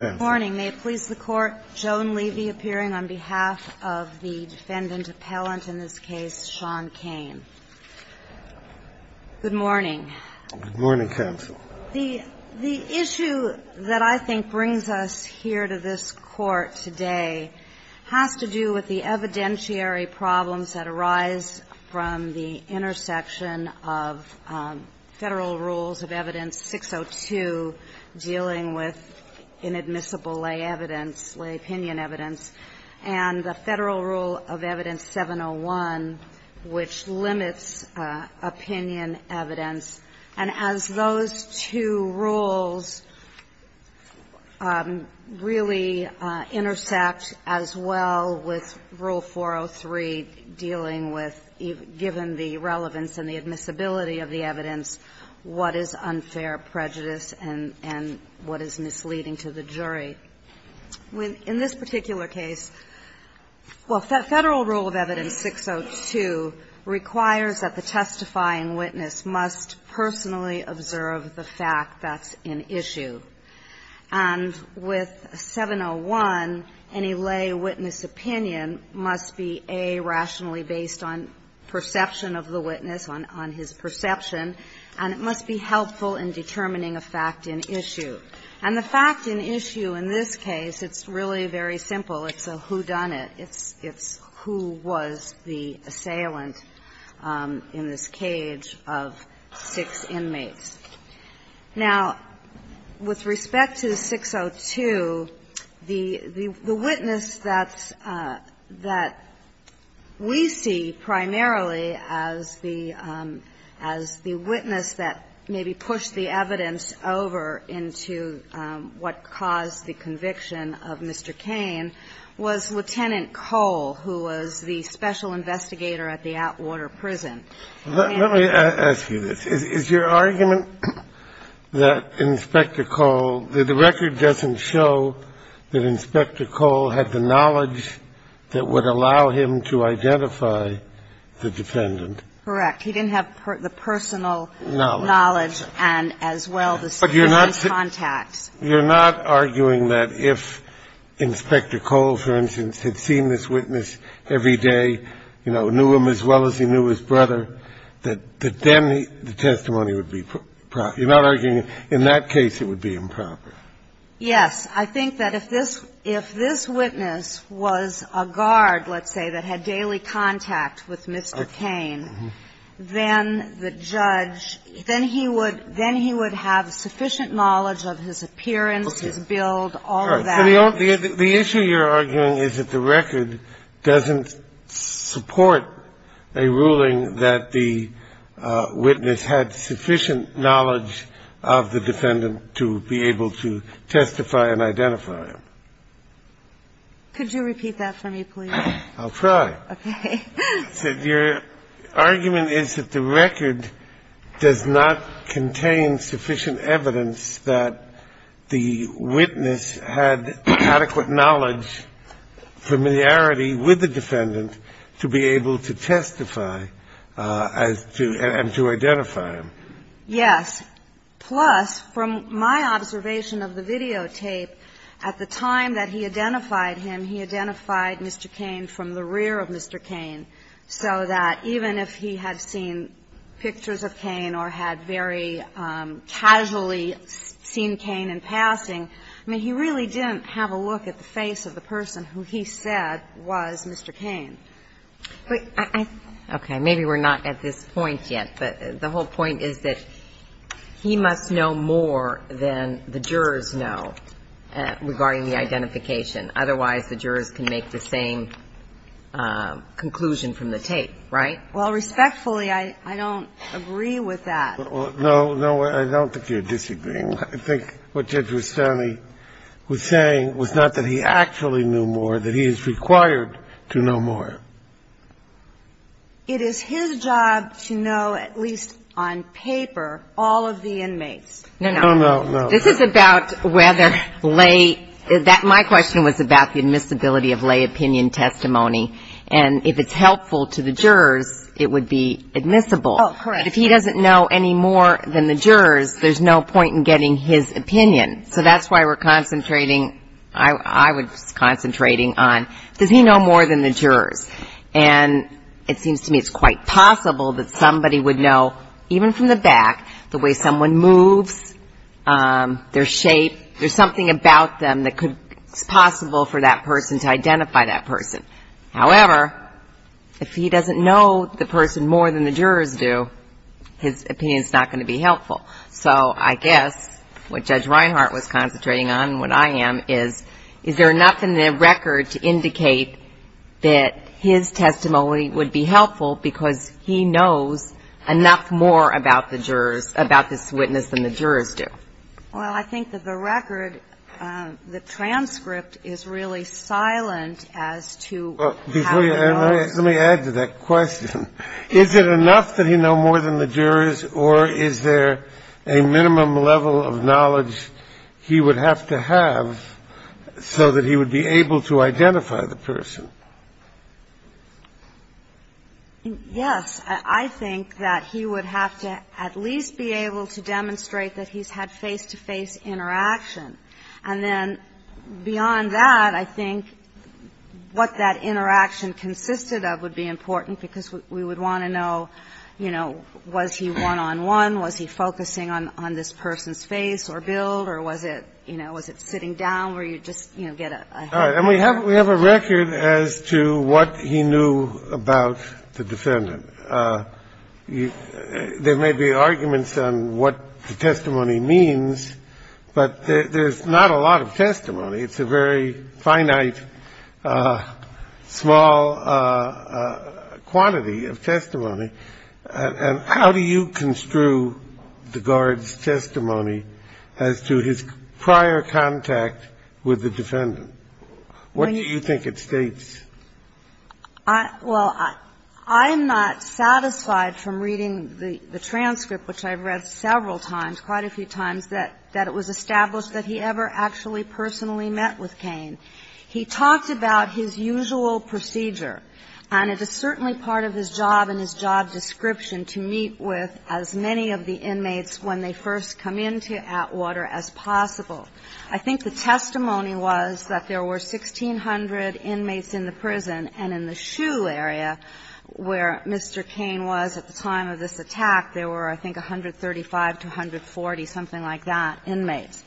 Good morning. May it please the Court, Joan Levy appearing on behalf of the defendant appellant in this case, Sean Kane. Good morning. Good morning, Counsel. The issue that I think brings us here to this Court today has to do with the evidentiary problems that arise from the intersection of Federal Rules of Evidence 602 dealing with inadmissible lay evidence, lay opinion evidence, and the Federal Rule of Evidence 701, which limits opinion evidence. And as those two rules really intersect as well with Rule 403 dealing with, given the business leading to the jury, in this particular case, well, Federal Rule of Evidence 602 requires that the testifying witness must personally observe the fact that's in issue, and with 701, any lay witness opinion must be, A, rationally based on perception of the witness, on his perception, and it must be helpful in determining a fact in issue. And the fact in issue in this case, it's really very simple. It's a whodunit. It's who was the assailant in this cage of six inmates. Now, with respect to 602, the witness that's – that we see primarily as the witness that maybe pushed the evidence over into what caused the conviction of Mr. Cain was Lieutenant Cole, who was the special investigator at the Atwater prison. Let me ask you this. Is your argument that Inspector Cole – that the record doesn't show that Inspector Cole had the knowledge that would allow him to identify the defendant? Correct. He didn't have the personal knowledge and, as well, the security contacts. But you're not arguing that if Inspector Cole, for instance, had seen this witness every day, you know, knew him as well as he knew his brother, that then the testimony would be – you're not arguing in that case it would be improper? Yes. I think that if this witness was a guard, let's say, that had daily contact with Mr. Cain, then the judge – then he would have sufficient knowledge of his appearance, his build, all of that. The issue you're arguing is that the record doesn't support a ruling that the witness had sufficient knowledge of the defendant to be able to testify and identify him. Could you repeat that for me, please? I'll try. Okay. Your argument is that the record does not contain sufficient evidence that the witness had adequate knowledge, familiarity with the defendant to be able to testify as to – and to identify him. Yes. Plus, from my observation of the videotape, at the time that he identified him, he identified Mr. Cain from the rear of Mr. Cain, so that even if he had seen pictures of Cain or had very casually seen Cain in passing, I mean, he really didn't have a look at the face of the person who he said was Mr. Cain. Okay. Maybe we're not at this point yet, but the whole point is that he must know more than the jurors know regarding the identification. Otherwise, the jurors can make the same conclusion from the tape, right? Well, respectfully, I don't agree with that. No, no, I don't think you're disagreeing. I think what Judge Rustami was saying was not that he actually knew more, that he is required to know more. It is his job to know, at least on paper, all of the inmates. No, no. No, no, no. This is about whether lay, my question was about the admissibility of lay opinion testimony, and if it's helpful to the jurors, it would be admissible. Oh, correct. If he doesn't know any more than the jurors, there's no point in getting his opinion. So that's why we're concentrating, I was concentrating on, does he know more than the jurors? And it seems to me it's quite possible that somebody would know, even from the their shape, there's something about them that could, it's possible for that person to identify that person. However, if he doesn't know the person more than the jurors do, his opinion's not going to be helpful. So I guess what Judge Reinhart was concentrating on, and what I am, is, is there enough in the record to indicate that his testimony would be helpful because he knows enough more about the jurors, about this witness than the jurors do? Well, I think that the record, the transcript is really silent as to how he knows. Let me add to that question. Is it enough that he know more than the jurors, or is there a minimum level of knowledge he would have to have so that he would be able to identify the person? Yes. I think that he would have to at least be able to demonstrate that he's had face-to-face interaction. And then beyond that, I think what that interaction consisted of would be important because we would want to know, you know, was he one-on-one, was he focusing on this person's face or build, or was it, you know, was it sitting down, or you'd just, you know, get a head start. And we have a record as to what he knew about the defendant. There may be arguments on what the testimony means, but there's not a lot of testimony. It's a very finite, small quantity of testimony. And how do you construe the guard's testimony as to his prior contact with the defendant? What do you think it states? Well, I'm not satisfied from reading the transcript, which I've read several times, quite a few times, that it was established that he ever actually personally met with Cain. He talks about his usual procedure, and it is certainly part of his job and his job description to meet with as many of the inmates when they first come into Atwater as possible. I think the testimony was that there were 1,600 inmates in the prison, and in the Shoe area where Mr. Cain was at the time of this attack, there were, I think, 135 to 140, something like that, inmates.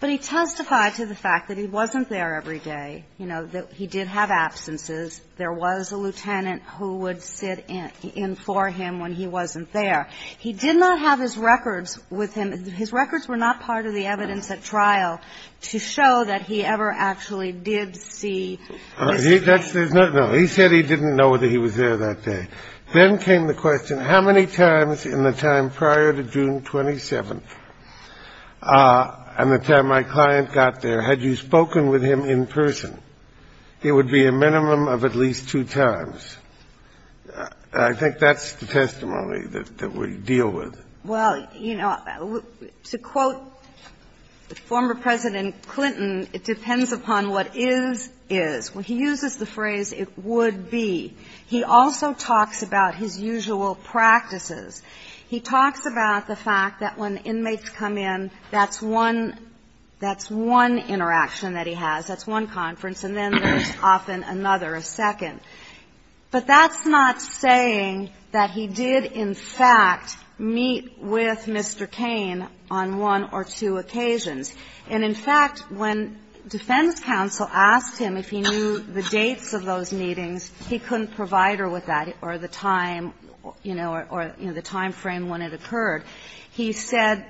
But he testified to the fact that he wasn't there every day, you know, that he did have absences, there was a lieutenant who would sit in for him when he wasn't there. He did not have his records with him. His records were not part of the evidence at trial to show that he ever actually did see Mr. Cain. He said he didn't know that he was there that day. Then came the question, how many times in the time prior to June 27th and the time my client got there had you spoken with him in person? It would be a minimum of at least two times. I think that's the testimony that we deal with. Well, you know, to quote former President Clinton, it depends upon what is, is. When he uses the phrase, it would be, he also talks about his usual practices. He talks about the fact that when inmates come in, that's one – that's one interaction that he has, that's one conference, and then there's often another, a second. But that's not saying that he did, in fact, meet with Mr. Cain on one or two occasions. And in fact, when defense counsel asked him if he knew the dates of those meetings, he couldn't provide her with that or the time, you know, or the time frame when it occurred. He said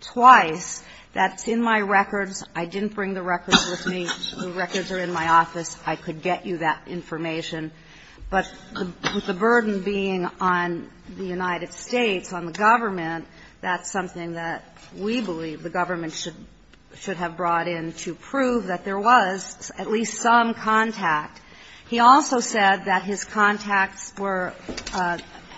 twice that it's in my records, I didn't bring the records with me, the records are in my office. I could get you that information. But with the burden being on the United States, on the government, that's something that we believe the government should have brought in to prove that there was at least some contact. He also said that his contacts were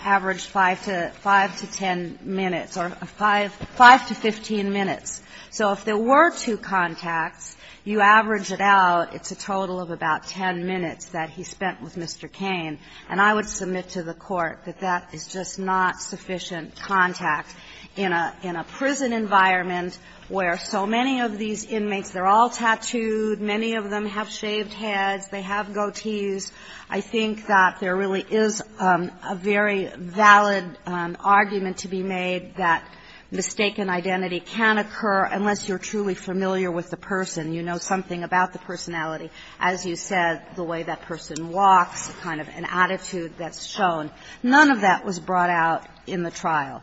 averaged 5 to 10 minutes or 5 to 15 minutes. So if there were two contacts, you average it out, it's a total of about 10 minutes that he spent with Mr. Cain. And I would submit to the Court that that is just not sufficient contact in a prison environment where so many of these inmates, they're all tattooed, many of them have shaved heads, they have goatees. I think that there really is a very valid argument to be made that mistaken identity can occur unless you're truly familiar with the person, you know something about the personality, as you said, the way that person walks, the kind of an attitude that's shown. None of that was brought out in the trial.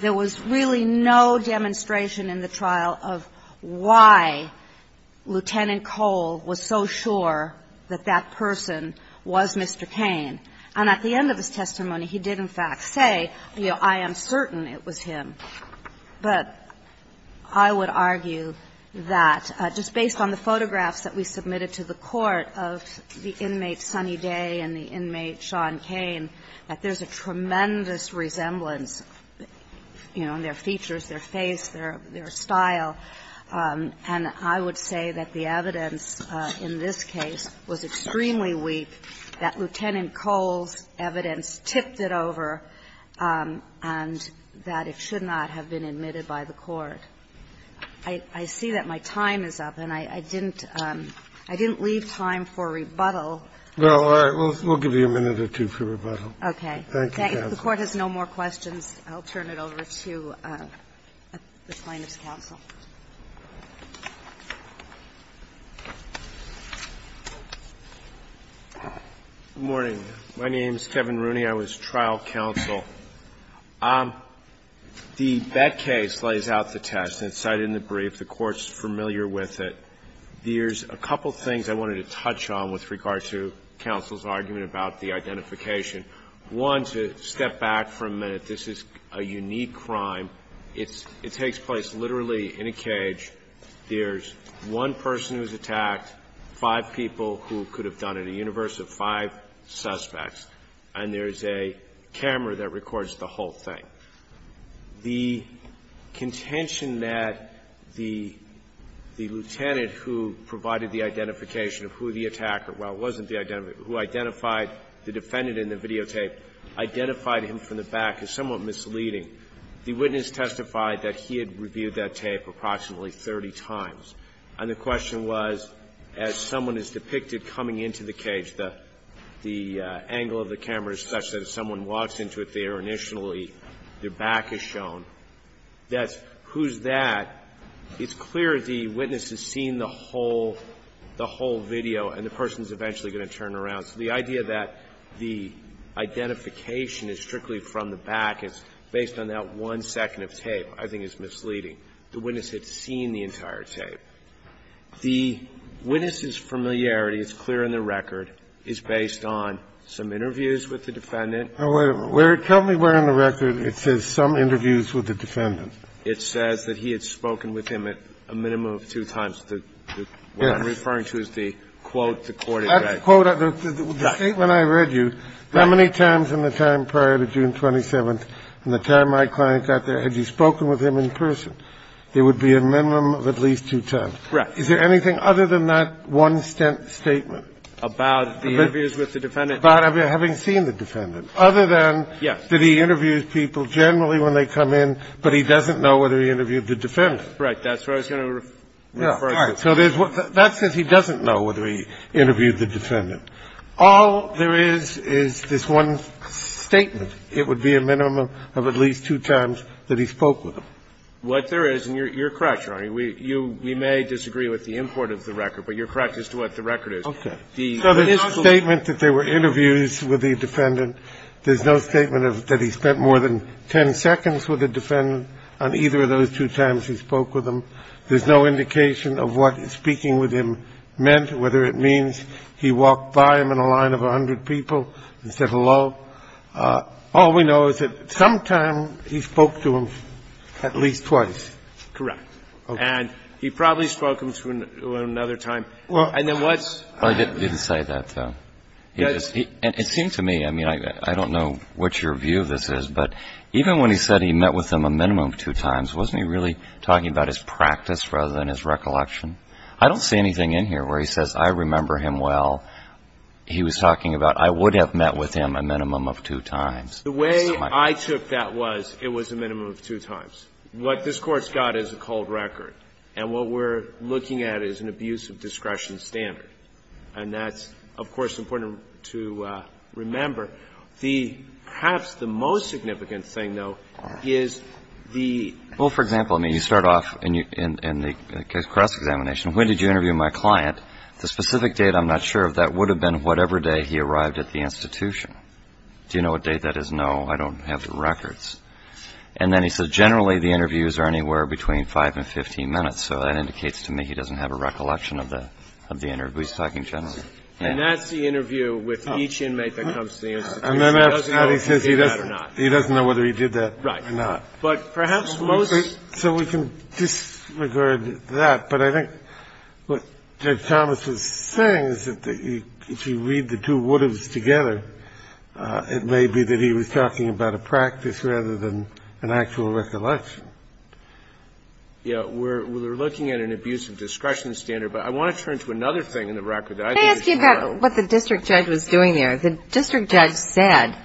There was really no demonstration in the trial of why Lieutenant Cole was so sure that that person was Mr. Cain. And at the end of his testimony, he did, in fact, say, you know, I am certain it was him. But I would argue that, just based on the photographs that we submitted to the Court of the inmate, Sonny Day, and the inmate, Sean Cain, that there's a tremendous resemblance, you know, in their features, their face, their style. And I would say that the evidence in this case was extremely weak, that Lieutenant Cain should not have been admitted by the court. I see that my time is up, and I didn't leave time for rebuttal. Well, all right. We'll give you a minute or two for rebuttal. Okay. Thank you, counsel. If the Court has no more questions, I'll turn it over to the plaintiff's counsel. Good morning. My name is Kevin Rooney. I was trial counsel. The Bett case lays out the test, and it's cited in the brief. The Court's familiar with it. There's a couple of things I wanted to touch on with regard to counsel's argument about the identification. One, to step back for a minute, this is a unique crime. It's – it takes place literally in a cage. There's one person who's attacked, five people who could have done it, a universe of five suspects. And there's a camera that records the whole thing. The contention that the lieutenant who provided the identification of who the attacker – well, it wasn't the identifier, but who identified the defendant in the videotape, identified him from the back is somewhat misleading. The witness testified that he had reviewed that tape approximately 30 times. And the question was, as someone is depicted coming into the cage, the angle of the camera is such that if someone walks into it there initially, their back is shown. That's – who's that? It's clear the witness has seen the whole – the whole video, and the person's eventually going to turn around. So the idea that the identification is strictly from the back is based on that one second of tape I think is misleading. The witness had seen the entire tape. The witness's familiarity, it's clear in the record, is based on some interviews with the defendant. Kennedy, where – tell me where in the record it says some interviews with the defendant. It says that he had spoken with him at a minimum of two times. Yes. What I'm referring to is the quote, the court has said. That quote – the statement I read you, how many times in the time prior to June 27th, in the time my client got there, had you spoken with him in person, it would be a minimum of at least two times. Is there anything other than that one statement? About the interviews with the defendant. About having seen the defendant. Other than that he interviews people generally when they come in, but he doesn't know whether he interviewed the defendant. Right. That's what I was going to refer to. So there's – that says he doesn't know whether he interviewed the defendant. All there is, is this one statement, it would be a minimum of at least two times that he spoke with him. What there is, and you're correct, Your Honor, we – you – we may disagree with the import of the record, but you're correct as to what the record is. Okay. So there's no statement that there were interviews with the defendant. There's no statement of – that he spent more than ten seconds with the defendant on either of those two times he spoke with him. There's no indication of what speaking with him meant, whether it means he walked by him in a line of 100 people and said hello. All we know is that sometime he spoke to him at least twice. Correct. And he probably spoke to him another time. And then what's – Well, he didn't say that, though. He just – and it seemed to me, I mean, I don't know what your view of this is, but even when he said he met with him a minimum of two times, wasn't he really talking about his practice rather than his recollection? I don't see anything in here where he says I remember him well. He was talking about I would have met with him a minimum of two times. The way I took that was it was a minimum of two times. What this Court's got is a cold record. And what we're looking at is an abuse of discretion standard. And that's, of course, important to remember. The – perhaps the most significant thing, though, is the – And then he says, generally, the interviews are anywhere between 5 and 15 minutes. So that indicates to me he doesn't have a recollection of the interview. He's talking generally. And that's the interview with each inmate that comes to the institution. He doesn't know if he did that or not. And then after that, he says he doesn't know whether he did that or not. Right. have a recollection of the interview. But what Judge Thomas is saying is that if you read the two would-haves together, it may be that he was talking about a practice rather than an actual recollection. Yeah. We're looking at an abuse of discretion standard. But I want to turn to another thing in the record that I think is important. May I ask you about what the district judge was doing there? The district judge said,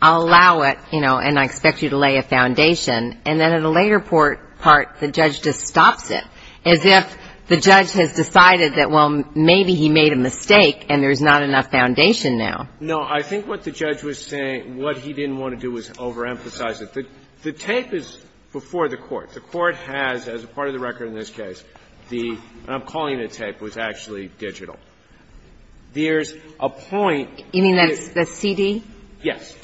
I'll allow it, you know, and I expect you to lay a foundation. And then at a later part, the judge just stops it. As if the judge has decided that, well, maybe he made a mistake and there's not enough foundation now. No. I think what the judge was saying, what he didn't want to do was overemphasize it. The tape is before the Court. The Court has, as a part of the record in this case, the – and I'm calling it a tape – was actually digital. There's a point where the – You mean that's CD? Yes.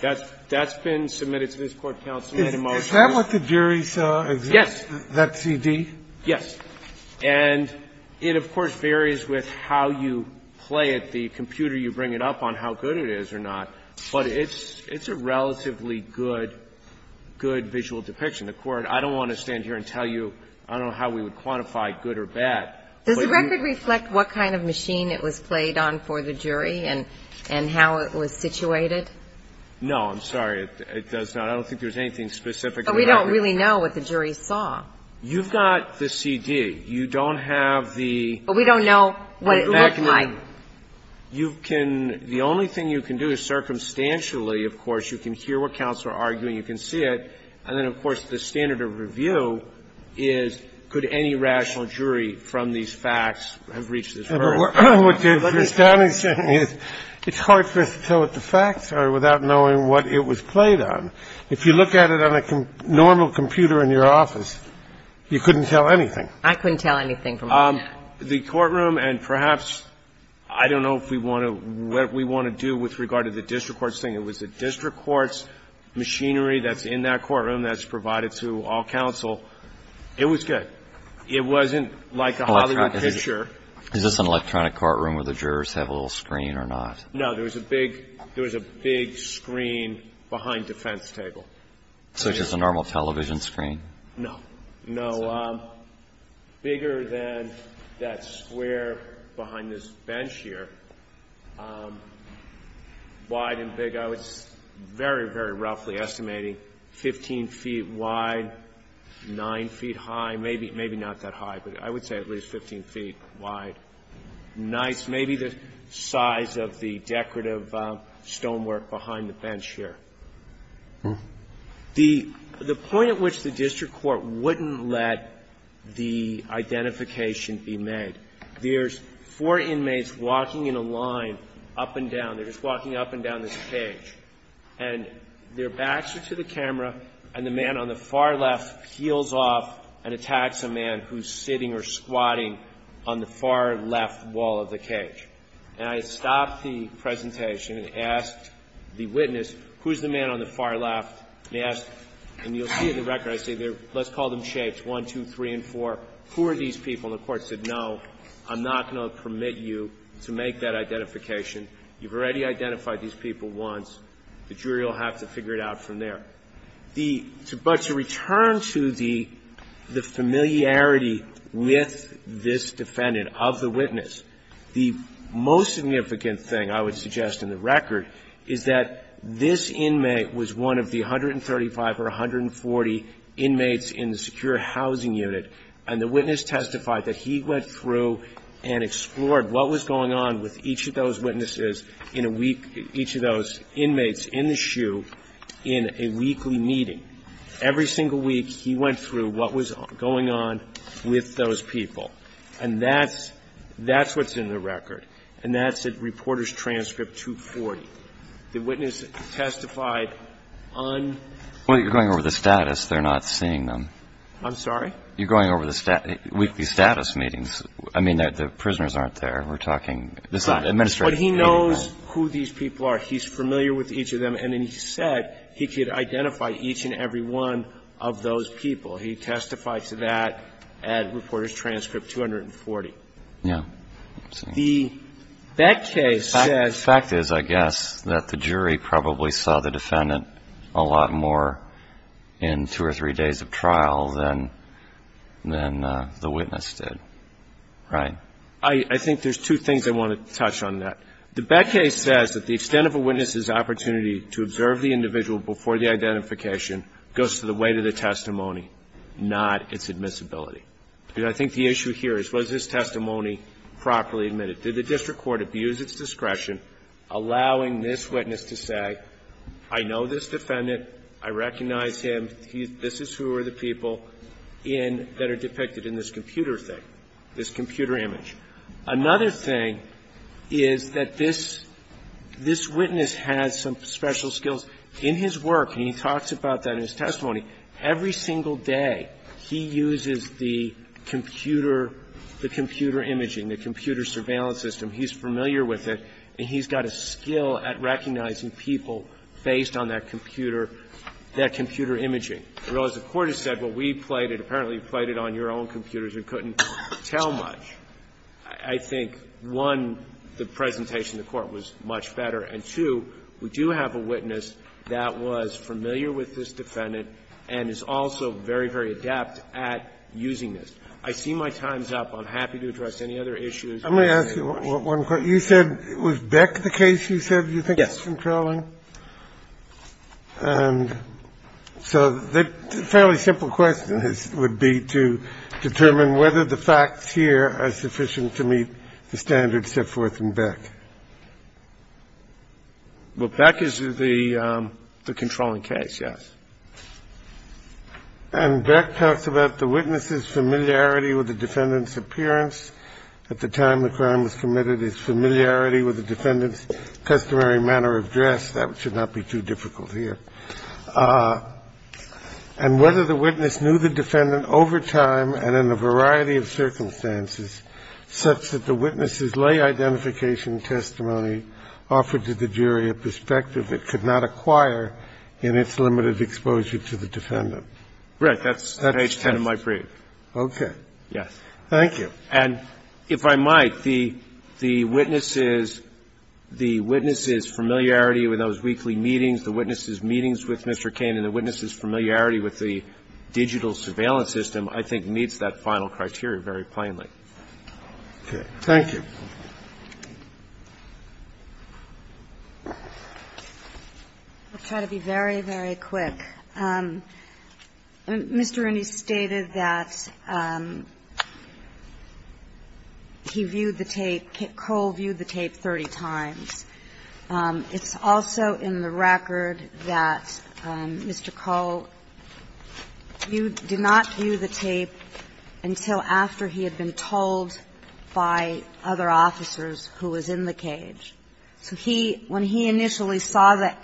That's been submitted to this Court counsel in a motion. Is that what the jury saw? Yes. That CD? Yes. And it, of course, varies with how you play it, the computer you bring it up on, how good it is or not. But it's a relatively good, good visual depiction. The Court – I don't want to stand here and tell you – I don't know how we would quantify good or bad, but you – Does the record reflect what kind of machine it was played on for the jury and how it was situated? No. I'm sorry. It does not. I don't think there's anything specific in the record. But we don't really know what the jury saw. You've got the CD. You don't have the – But we don't know what it looked like. You can – the only thing you can do is, circumstantially, of course, you can hear what counts or argue and you can see it. And then, of course, the standard of review is, could any rational jury from these facts have reached this verdict? But what you're saying is it's hard for us to tell what the facts are without knowing what it was played on. If you look at it on a normal computer in your office, you couldn't tell anything. I couldn't tell anything from a net. The courtroom and perhaps – I don't know if we want to – what we want to do with regard to the district court's thing. It was the district court's machinery that's in that courtroom that's provided to all counsel. It was good. It wasn't like a Hollywood picture. Is this an electronic courtroom where the jurors have a little screen or not? No. There was a big – there was a big screen behind the fence table. Such as a normal television screen? No. No. Bigger than that square behind this bench here. Wide and big. I was very, very roughly estimating 15 feet wide, 9 feet high. Maybe not that high, but I would say at least 15 feet wide. Nice. Maybe the size of the decorative stonework behind the bench here. The point at which the district court wouldn't let the identification be made, there's four inmates walking in a line up and down. They're just walking up and down this cage. And their backs are to the camera, and the man on the far left peels off and attacks a man who's sitting or squatting on the far left wall of the cage. And I stopped the presentation and asked the witness, who's the man on the far left? And I asked – and you'll see in the record, I say, let's call them shapes, 1, 2, 3, and 4. Who are these people? And the court said, no, I'm not going to permit you to make that identification. You've already identified these people once. The jury will have to figure it out from there. The – but to return to the familiarity with this defendant, of the witness, the most significant thing, I would suggest in the record, is that this inmate was one of the 135 or 140 inmates in the secure housing unit, and the witness testified that he went through and explored what was going on with each of those witnesses in a week – each of those inmates in the SHU in a weekly meeting. Every single week, he went through what was going on with those people. And that's – that's what's in the record, and that's at Reporters' Transcript 240. The witness testified on the record that he went through and explored what was going on with each of those inmates in the SHU in a weekly meeting. And he knows who these people are. He's familiar with each of them, and then he said he could identify each and every one of those people. He testified to that at Reporters' Transcript 240. Yeah. The fact is, I guess, that the jury probably saw the defendant a lot more in two or three days of trial than the witness did, right? I think there's two things I want to touch on that. The Beck case says that the extent of a witness's opportunity to observe the individual before the identification goes to the weight of the testimony, not its admissibility. And I think the issue here is, was his testimony properly admitted? Did the district court abuse its discretion, allowing this witness to say, I know this defendant, I recognize him, this is who are the people in – that are depicted in this computer thing, this computer image? Another thing is that this witness has some special skills in his work, and he talks about that in his testimony. Every single day, he uses the computer, the computer imaging, the computer surveillance system. He's familiar with it, and he's got a skill at recognizing people based on that computer, that computer imaging. I realize the Court has said, well, we played it, apparently you played it on your own computers and couldn't tell much. I think, one, the presentation to the Court was much better, and, two, we do have a witness that was familiar with this defendant and is also very, very adept at using this. I see my time's up. I'm happy to address any other issues. Kennedy, you said, was Beck the case you said you think is controlling? Yes. And so the fairly simple question would be to determine whether the facts here are sufficient to meet the standards set forth in Beck. Well, Beck is the controlling case, yes. And Beck talks about the witness's familiarity with the defendant's appearance at the time the crime was committed, his familiarity with the defendant's customary manner of dress. That should not be too difficult here. And whether the witness knew the defendant over time and in a variety of circumstances such that the witness's lay identification testimony offered to the jury a perspective it could not acquire in its limited exposure to the defendant. Right. That's page 10 of my brief. Okay. Yes. Thank you. And if I might, the witness's familiarity with those weekly meetings, the witness's meetings with Mr. Cain and the witness's familiarity with the digital surveillance system I think meets that final criteria very plainly. Okay. Thank you. I'll try to be very, very quick. Mr. Rooney stated that he viewed the tape, Cole viewed the tape 30 times. It's also in the record that Mr. Cole did not view the tape until after he had been told by other officers who was in the cage. So he, when he initially saw that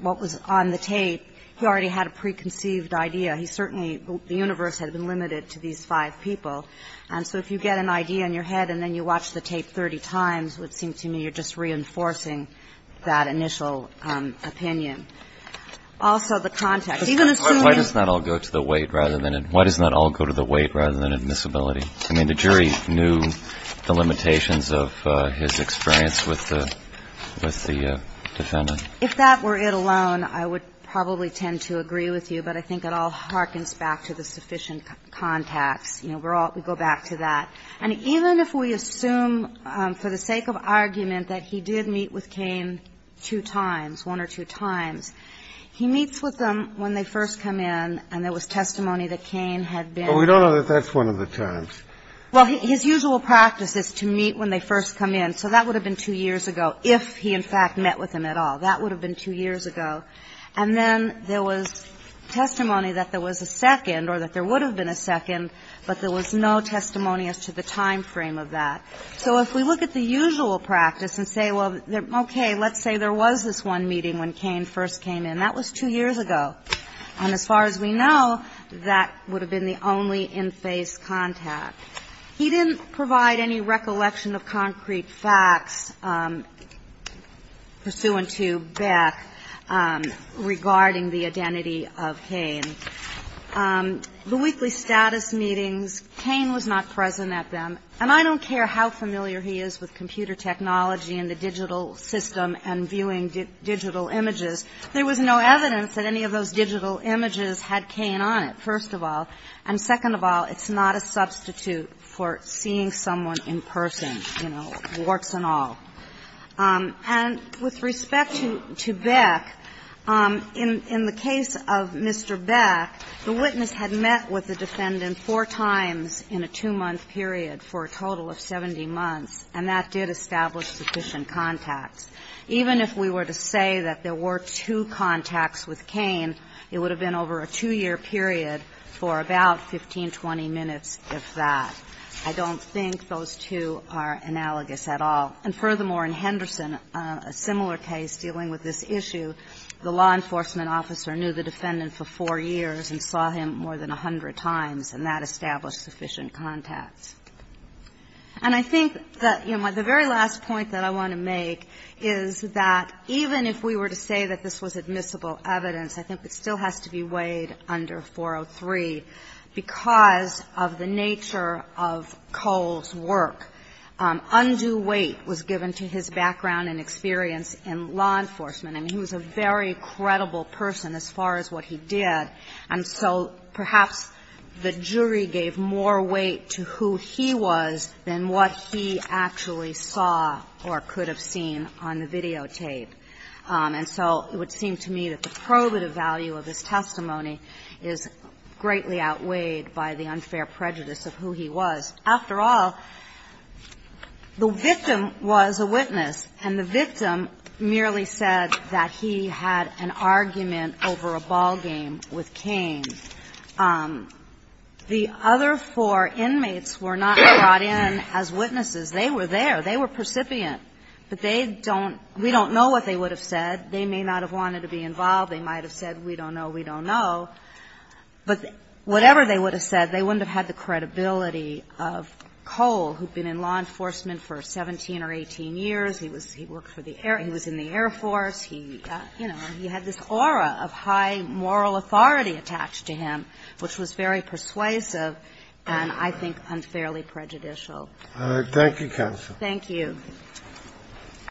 what was on the tape, he already had a preconceived idea. He certainly, the universe had been limited to these five people. And so if you get an idea in your head and then you watch the tape 30 times, it would seem to me you're just reinforcing that initial opinion. Also the context, even assuming. Why does not all go to the weight rather than, why does not all go to the weight rather than admissibility? I mean, the jury knew the limitations of his experience with the defendant. If that were it alone, I would probably tend to agree with you. But I think it all harkens back to the sufficient contacts. You know, we go back to that. And even if we assume for the sake of argument that he did meet with Cain two times, one or two times, he meets with them when they first come in and there was testimony that Cain had been. We don't know that that's one of the terms. Well, his usual practice is to meet when they first come in. So that would have been two years ago if he in fact met with him at all. That would have been two years ago. And then there was testimony that there was a second or that there would have been a second, but there was no testimony as to the time frame of that. So if we look at the usual practice and say, well, okay, let's say there was this one meeting when Cain first came in. That was two years ago. And as far as we know, that would have been the only in-face contact. He didn't provide any recollection of concrete facts pursuant to Beck regarding the identity of Cain. The weekly status meetings, Cain was not present at them. And I don't care how familiar he is with computer technology and the digital system and viewing digital images. There was no evidence that any of those digital images had Cain on it, first of all. And second of all, it's not a substitute for seeing someone in person, you know, warts and all. And with respect to Beck, in the case of Mr. Beck, the witness had met with the defendant four times in a two-month period for a total of 70 months, and that did establish sufficient contacts. Even if we were to say that there were two contacts with Cain, it would have been over a two-year period for about 15, 20 minutes, if that. I don't think those two are analogous at all. And furthermore, in Henderson, a similar case dealing with this issue, the law enforcement officer knew the defendant for four years and saw him more than 100 times, and that established sufficient contacts. And I think that, you know, the very last point that I want to make is that even if we were to say that this was admissible evidence, I think it still has to be weighed under 403 because of the nature of Cole's work. Undue weight was given to his background and experience in law enforcement. I mean, he was a very credible person as far as what he did, and so perhaps the jury gave more weight to who he was than what he actually saw or could have seen on the videotape. And so it would seem to me that the probative value of his testimony is greatly outweighed by the unfair prejudice of who he was. After all, the victim was a witness, and the victim merely said that he had an argument over a ballgame with Cain. The other four inmates were not brought in as witnesses. They were there. They were percipient, but they don't – we don't know what they would have said. They may not have wanted to be involved. They might have said, we don't know, we don't know. But whatever they would have said, they wouldn't have had the credibility of Cole, who had been in law enforcement for 17 or 18 years. He was – he worked for the Air – he was in the Air Force. He, you know, he had this aura of high moral authority attached to him, which was very persuasive and, I think, unfairly prejudicial. Thank you, counsel. Thank you.